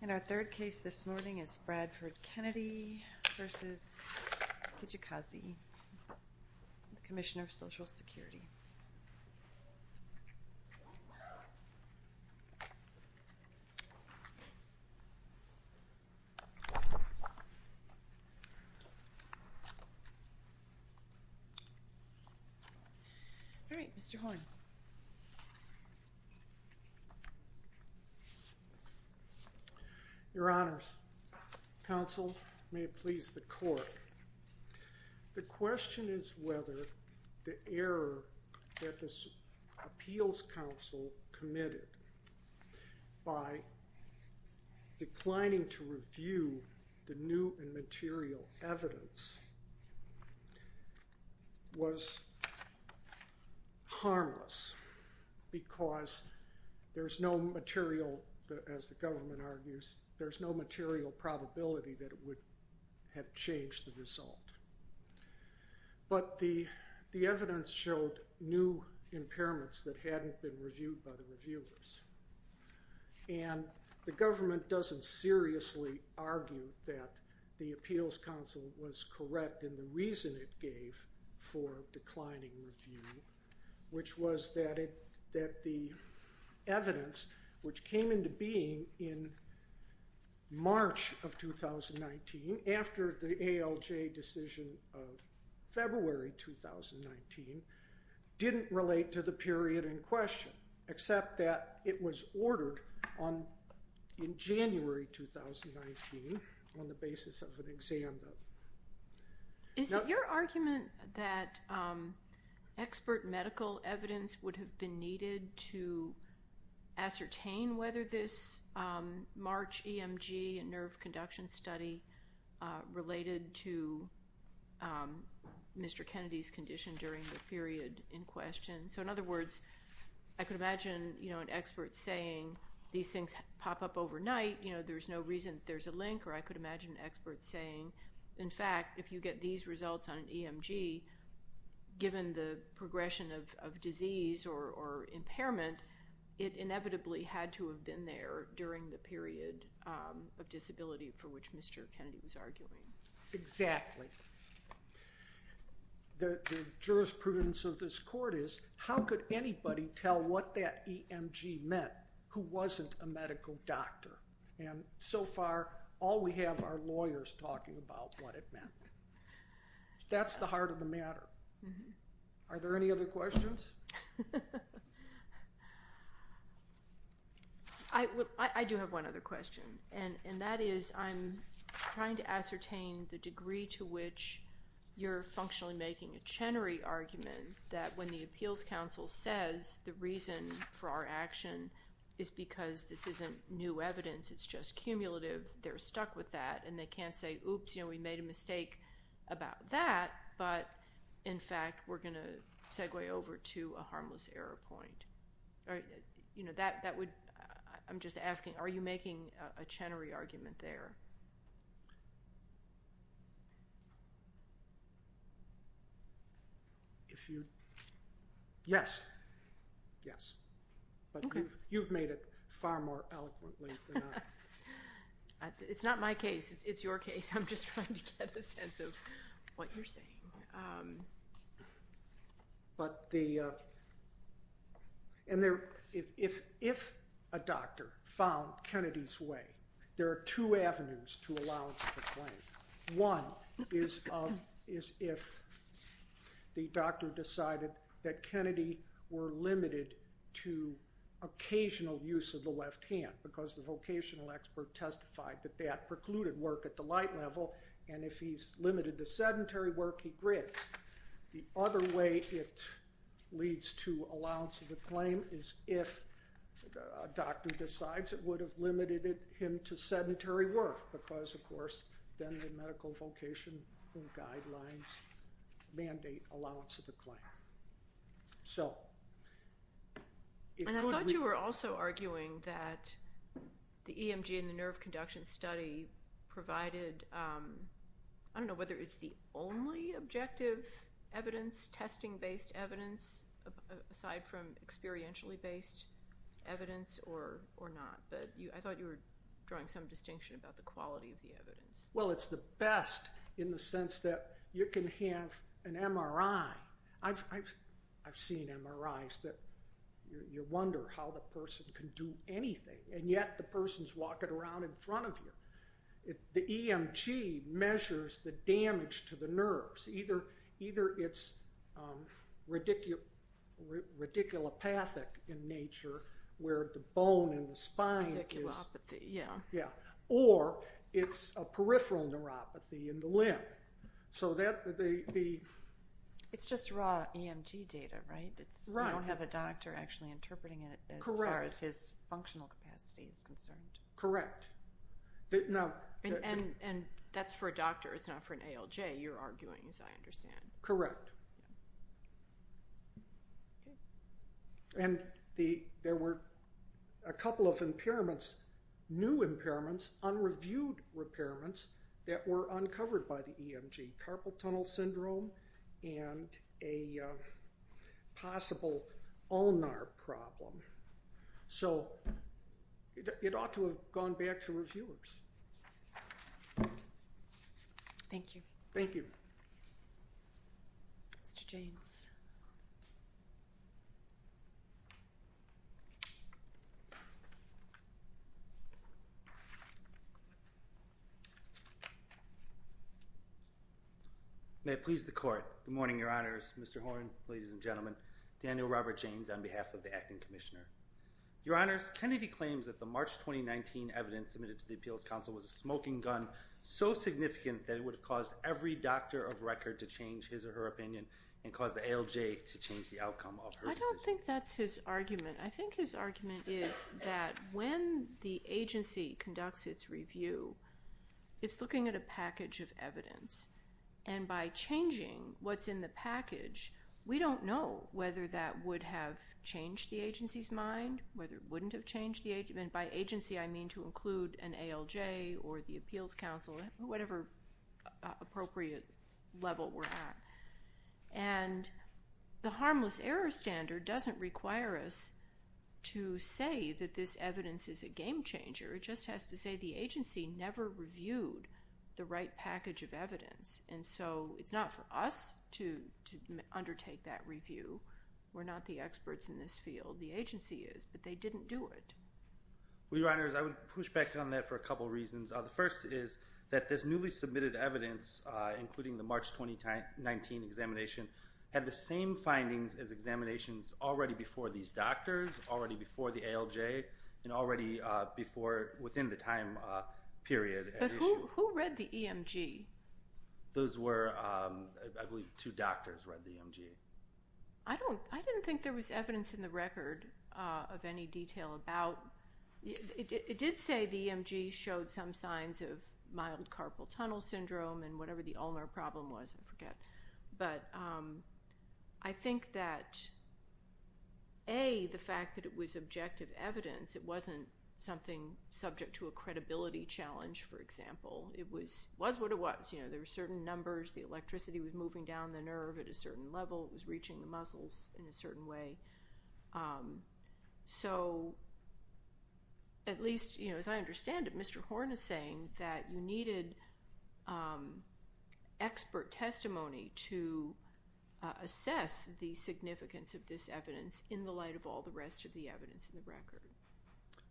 And our third case this morning is Bradford Kennedy v. Kijakazi, Commissioner of Social Justice. Your Honors, counsel, may it please the court. The question is whether the error that this appeals counsel committed by declining to review the new and material evidence was harmless because there's no material, as the government argues, there's no material probability that it would have changed the result. But the evidence showed new impairments that hadn't been reviewed by the reviewers. And the government doesn't seriously argue that the appeals counsel was correct in the reason it gave for declining review, which was that the evidence, which came into being in March of 2019 after the ALJ decision of February 2019, didn't relate to the period in question, except that it was ordered in January 2019 on the basis of Is it your argument that expert medical evidence would have been needed to ascertain whether this March EMG and nerve conduction study related to Mr. Kennedy's condition during the period in question? So in other words, I could imagine an expert saying these things saying, in fact, if you get these results on an EMG, given the progression of disease or impairment, it inevitably had to have been there during the period of disability for which Mr. Kennedy was arguing. Exactly. The jurisprudence of this court is, how could anybody tell what that EMG meant who wasn't a medical doctor? And so far, all we have are lawyers talking about what it meant. That's the heart of the matter. Are there any other questions? I do have one other question, and that is, I'm trying to ascertain the degree to which you're functionally making a Chenery argument that when the appeals counsel says the reason for our action is because this isn't new evidence, it's just cumulative, they're stuck with that, and they can't say, oops, we made a mistake about that, but in fact, we're going to segue over to a harmless error point. I'm just asking, are you making a Chenery argument there? Yes. Yes. But you've made it far more eloquently than I have. It's not my case. It's your case. I'm just trying to get a sense of what you're saying. If a There are two avenues to allowance of the claim. One is if the doctor decided that Kennedy were limited to occasional use of the left hand, because the vocational expert testified that that precluded work at the light level, and if he's limited to sedentary work, he grids. The other way it leads to allowance of the claim is if a doctor decides it would have limited him to sedentary work, because, of course, then the medical vocation guidelines mandate allowance of the claim. I thought you were also arguing that the EMG and the nerve conduction study provided, I don't know whether it's the only objective evidence, testing-based evidence, aside from experientially-based evidence or not, but I thought you were drawing some distinction about the quality of the evidence. Well, it's the best in the sense that you can have an MRI. I've seen MRIs that you wonder how the person can do anything, and yet the person's walking around in front of you. The EMG measures the damage to the limb. It's not radiculopathic in nature, where the bone in the spine is... Radiculopathy, yeah. Yeah. Or it's a peripheral neuropathy in the limb. It's just raw EMG data, right? I don't have a doctor actually interpreting it as far as his functional capacity is concerned. Correct. And that's for a doctor. It's not for an ALJ, you're arguing, as I understand. Correct. Okay. And there were a couple of impairments, new impairments, unreviewed impairments that were uncovered by the EMG, carpal tunnel syndrome and a possible ulnar problem. So it ought to have gone back to reviewers. Thank you. Thank you. Mr. Jaynes. May it please the court. Good morning, Your Honors. Mr. Horne, ladies and gentlemen. Daniel Robert Jaynes on behalf of the Acting Commissioner. Your Honors, Kennedy claims that the March 2019 evidence submitted to the Appeals Council was a smoking gun so significant that it would have caused every doctor of record to change his or her opinion and caused the ALJ to change the outcome of her decision. I don't think that's his argument. I think his argument is that when the agency conducts its review, it's looking at a package of evidence. And by changing what's in the package, we don't know whether that would have changed the agency's mind, whether it wouldn't have appropriate level we're at. And the harmless error standard doesn't require us to say that this evidence is a game changer. It just has to say the agency never reviewed the right package of evidence. And so it's not for us to undertake that review. We're not the experts in this field. The agency is, but they didn't do it. Well, Your Honors, I would push back on that for a couple of reasons. The first is that this newly submitted evidence, including the March 2019 examination, had the same findings as examinations already before these doctors, already before the ALJ, and already before, within the time period at issue. But who read the EMG? Those were, I believe, two doctors read the EMG. I didn't think there was evidence in the record of any detail about, it did say the EMG showed some signs of mild carpal tunnel syndrome and whatever the ulnar problem was, I forget. But I think that, A, the fact that it was objective evidence, it wasn't something subject to a credibility challenge, for example. It was what it was. There were certain numbers, the electricity was moving down the nerve at a certain level, it was reaching the muscles in a certain way. So, at least as I understand it, Mr. Horn is saying that you needed expert testimony to assess the significance of this evidence in the light of all the rest of the evidence in the record.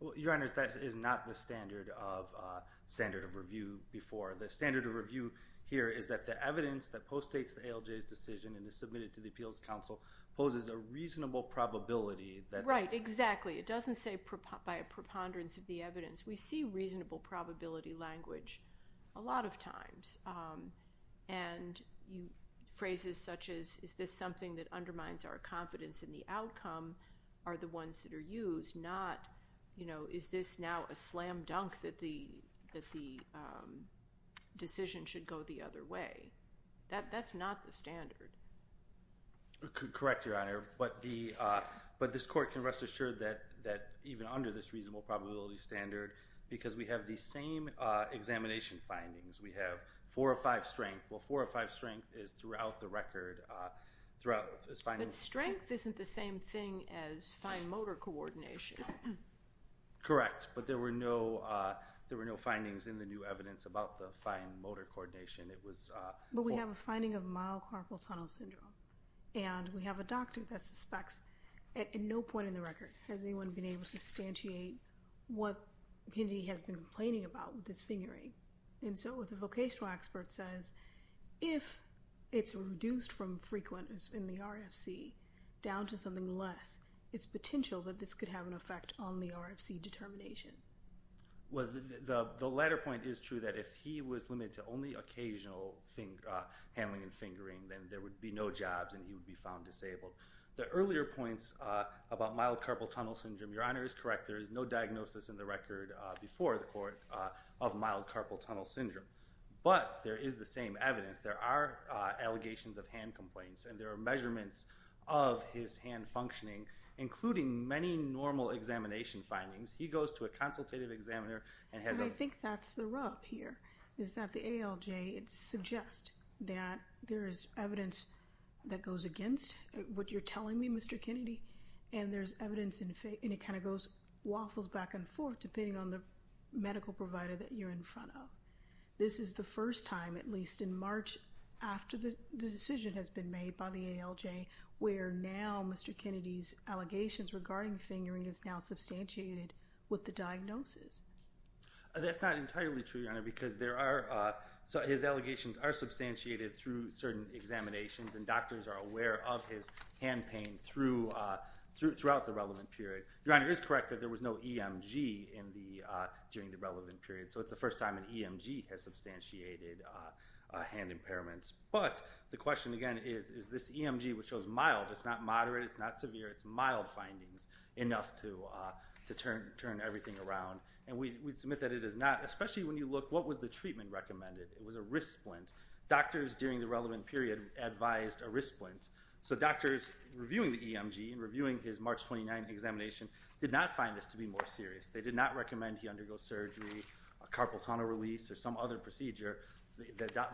Well, Your Honors, that is not the standard of review before. The standard of review here is that the evidence that postdates the ALJ's decision and is submitted to the Appeals Council poses a reasonable probability that... Right, exactly. It doesn't say by a preponderance of the evidence. We see reasonable probability language a lot of times. And phrases such as, is this something that undermines our confidence in the outcome are the ones that are used, not, you know, is this now a slam decision should go the other way. That's not the standard. Correct, Your Honor. But this Court can rest assured that even under this reasonable probability standard, because we have the same examination findings, we have four or five strength. Well, four or five strength is throughout the record, throughout this finding... But strength isn't the same thing as fine motor coordination. Correct. But there were no findings in the new evidence about the fine motor coordination. But we have a finding of mild carpal tunnel syndrome. And we have a doctor that suspects at no point in the record has anyone been able to substantiate what Kennedy has been complaining about with his fingering. And so the vocational expert says, if it's reduced from frequent in the RFC down to something less, it's potential that this could have an effect on the RFC determination. Well, the latter point is true that if he was limited to only occasional handling and fingering, then there would be no jobs and he would be found disabled. The earlier points about mild carpal tunnel syndrome, Your Honor is correct, there is no diagnosis in the record before the Court of mild carpal tunnel syndrome. But there is the same evidence. There are allegations of hand complaints and there are measurements of his hand functioning, including many normal examination findings. He goes to a consultative examiner and has a... I think that's the rub here, is that the ALJ, it suggests that there is evidence that goes against what you're telling me, Mr. Kennedy, and there's evidence and it kind of goes, waffles back and forth depending on the medical provider that you're in front of. This is the first time, at least, in March after the decision has been made by the ALJ, where now Mr. Kennedy's allegations regarding fingering is now substantiated with the diagnosis. That's not entirely true, Your Honor, because there are... his allegations are substantiated through certain examinations and doctors are aware of his hand pain throughout the relevant period. Your Honor, it is correct that there was no EMG during the relevant period, so it's the first time an EMG has substantiated hand impairments. But the question again is, is this EMG, which shows mild, it's not moderate, it's not severe, it's mild findings, enough to turn everything around? And we submit that it is not, especially when you look, what was the treatment recommended? It was a wrist splint. Doctors during the relevant period advised a wrist splint. So doctors reviewing the EMG and reviewing his March 29th examination did not find this to be more serious. They did not recommend he undergo surgery, a carpal tunnel release, or some other procedure.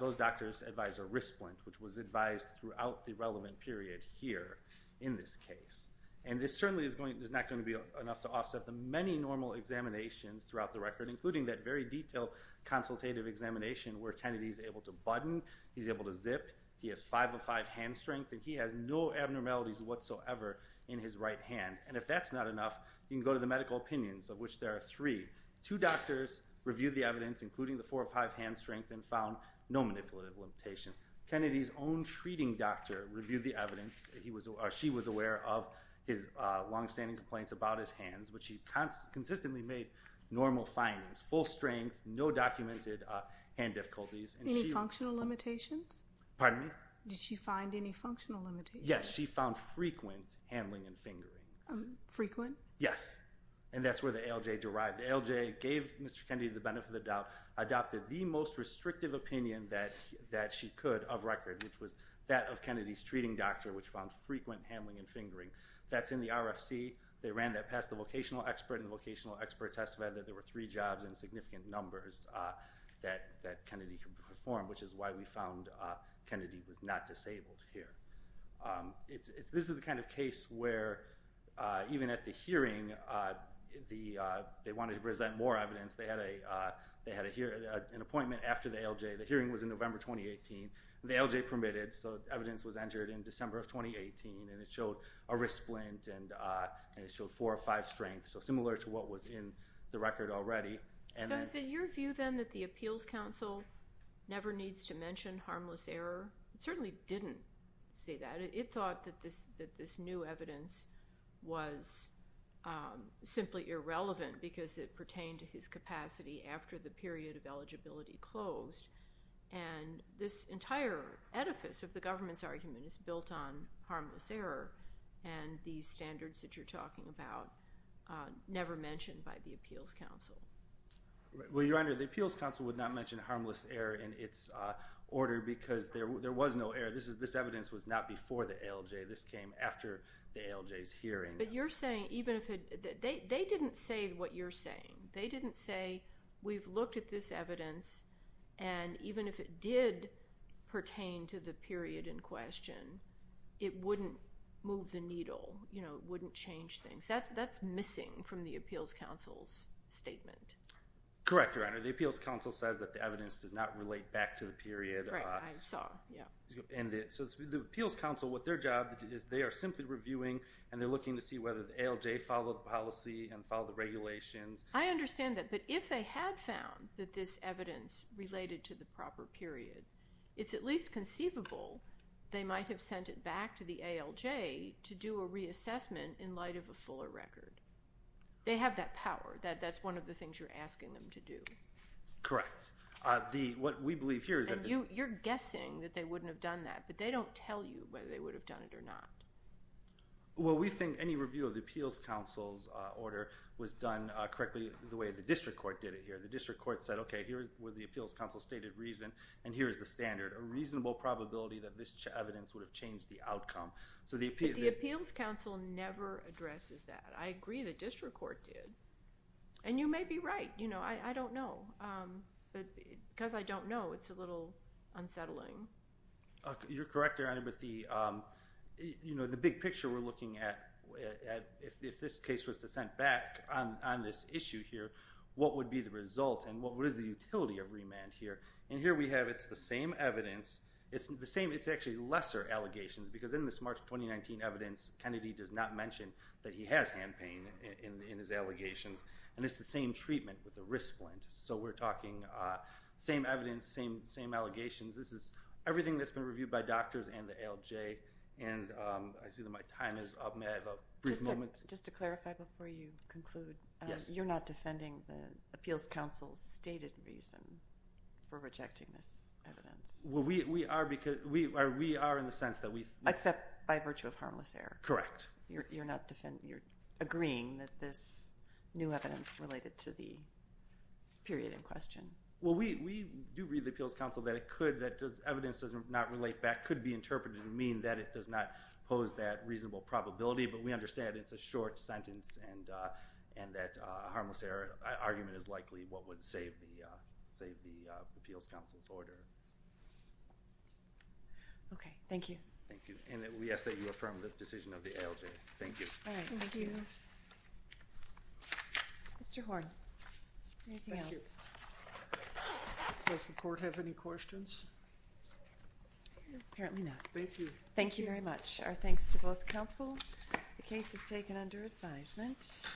Those doctors advised a wrist splint, which was advised throughout the relevant period here in this case. And this certainly is not going to be enough to offset the many normal examinations throughout the record, including that very five-of-five hand strength, and he has no abnormalities whatsoever in his right hand. And if that's not enough, you can go to the medical opinions, of which there are three. Two doctors reviewed the evidence, including the four-of-five hand strength, and found no manipulative limitation. Kennedy's own treating doctor reviewed the evidence. She was aware of his longstanding complaints about his hands, but she consistently made normal findings, full strength, no documented hand difficulties. Any functional limitations? Pardon me? Did she find any functional limitations? Yes. She found frequent handling and fingering. Frequent? Yes. And that's where the ALJ derived. The ALJ gave Mr. Kennedy the benefit of the doubt, adopted the most restrictive opinion that she could of record, which was that of Kennedy's treating doctor, which found frequent handling and fingering. That's in the RFC. They ran that past the vocational expert, and the vocational expert testified that there were three jobs in significant numbers that Kennedy could perform, which is why we found Kennedy was not disabled here. This is the kind of case where, even at the hearing, they wanted to present more evidence. They had an appointment after the ALJ. The hearing was in November 2018. The ALJ permitted, so evidence was entered in December of 2018, and it showed a wrist splint, and it showed So similar to what was in the record already. So is it your view, then, that the Appeals Council never needs to mention harmless error? It certainly didn't say that. It thought that this new evidence was simply irrelevant because it pertained to his capacity after the period of eligibility closed, and this entire edifice of the government's argument is built on harmless error, and these standards that you're talking about never mentioned by the Appeals Council. Well, Your Honor, the Appeals Council would not mention harmless error in its order because there was no error. This evidence was not before the ALJ. This came after the ALJ's hearing. But you're saying, even if it, they didn't say what you're saying. They didn't say, we've looked at this evidence, and even if it did pertain to the period in question, it wouldn't move the needle, you know, it wouldn't change things. That's missing from the Appeals Council's statement. Correct, Your Honor. The Appeals Council says that the evidence does not relate back to the period. Right, I saw, yeah. And so the Appeals Council, what their job is, they are simply reviewing, and they're looking to see whether the ALJ followed the policy and followed the regulations. I understand that, but if they had found that this evidence related to the proper period, it's at least conceivable they might have sent it back to the ALJ to do a reassessment in light of a fuller record. They have that power. That's one of the things you're asking them to do. Correct. What we believe here is that the... And you're guessing that they wouldn't have done that, but they don't tell you whether they would have done it or not. Well, we think any review of the Appeals Council's order was done correctly the way the District Court did it here. The District Court said, okay, here was the Appeals Council's stated reason, and here is the standard. A reasonable probability that this evidence would have changed the outcome. But the Appeals Council never addresses that. I agree the District Court did. And you may be right. I don't know. Because I don't know, it's a little unsettling. You're correct, Your Honor, but the big picture we're looking at, if this case was to send back on this issue here, what would be the result and what is the utility of remand here? And here we have, it's the same evidence. It's the same, it's actually lesser allegations because in this March 2019 evidence, Kennedy does not mention that he has hand pain in his allegations. And it's the same treatment with the wrist splint. So we're talking same evidence, same allegations. This is everything that's been reviewed by doctors and the ALJ. And I see that my time is up. May I have a brief moment? Just to clarify before you conclude. Yes. So you're not defending the Appeals Council's stated reason for rejecting this evidence? Well, we are in the sense that we... Except by virtue of harmless error. Correct. You're agreeing that this new evidence related to the period in question. Well, we do read the Appeals Council that evidence does not relate back, could be interpreted to mean that it does not pose that reasonable probability. But we understand it's a short sentence and that a harmless error argument is likely what would save the Appeals Council's order. Okay. Thank you. Thank you. And we ask that you affirm the decision of the ALJ. Thank you. All right. Thank you. Mr. Horne, anything else? Thank you. Does the court have any questions? Apparently not. Thank you. Thank you very much. Our thanks to both counsel. The case is taken under advisement.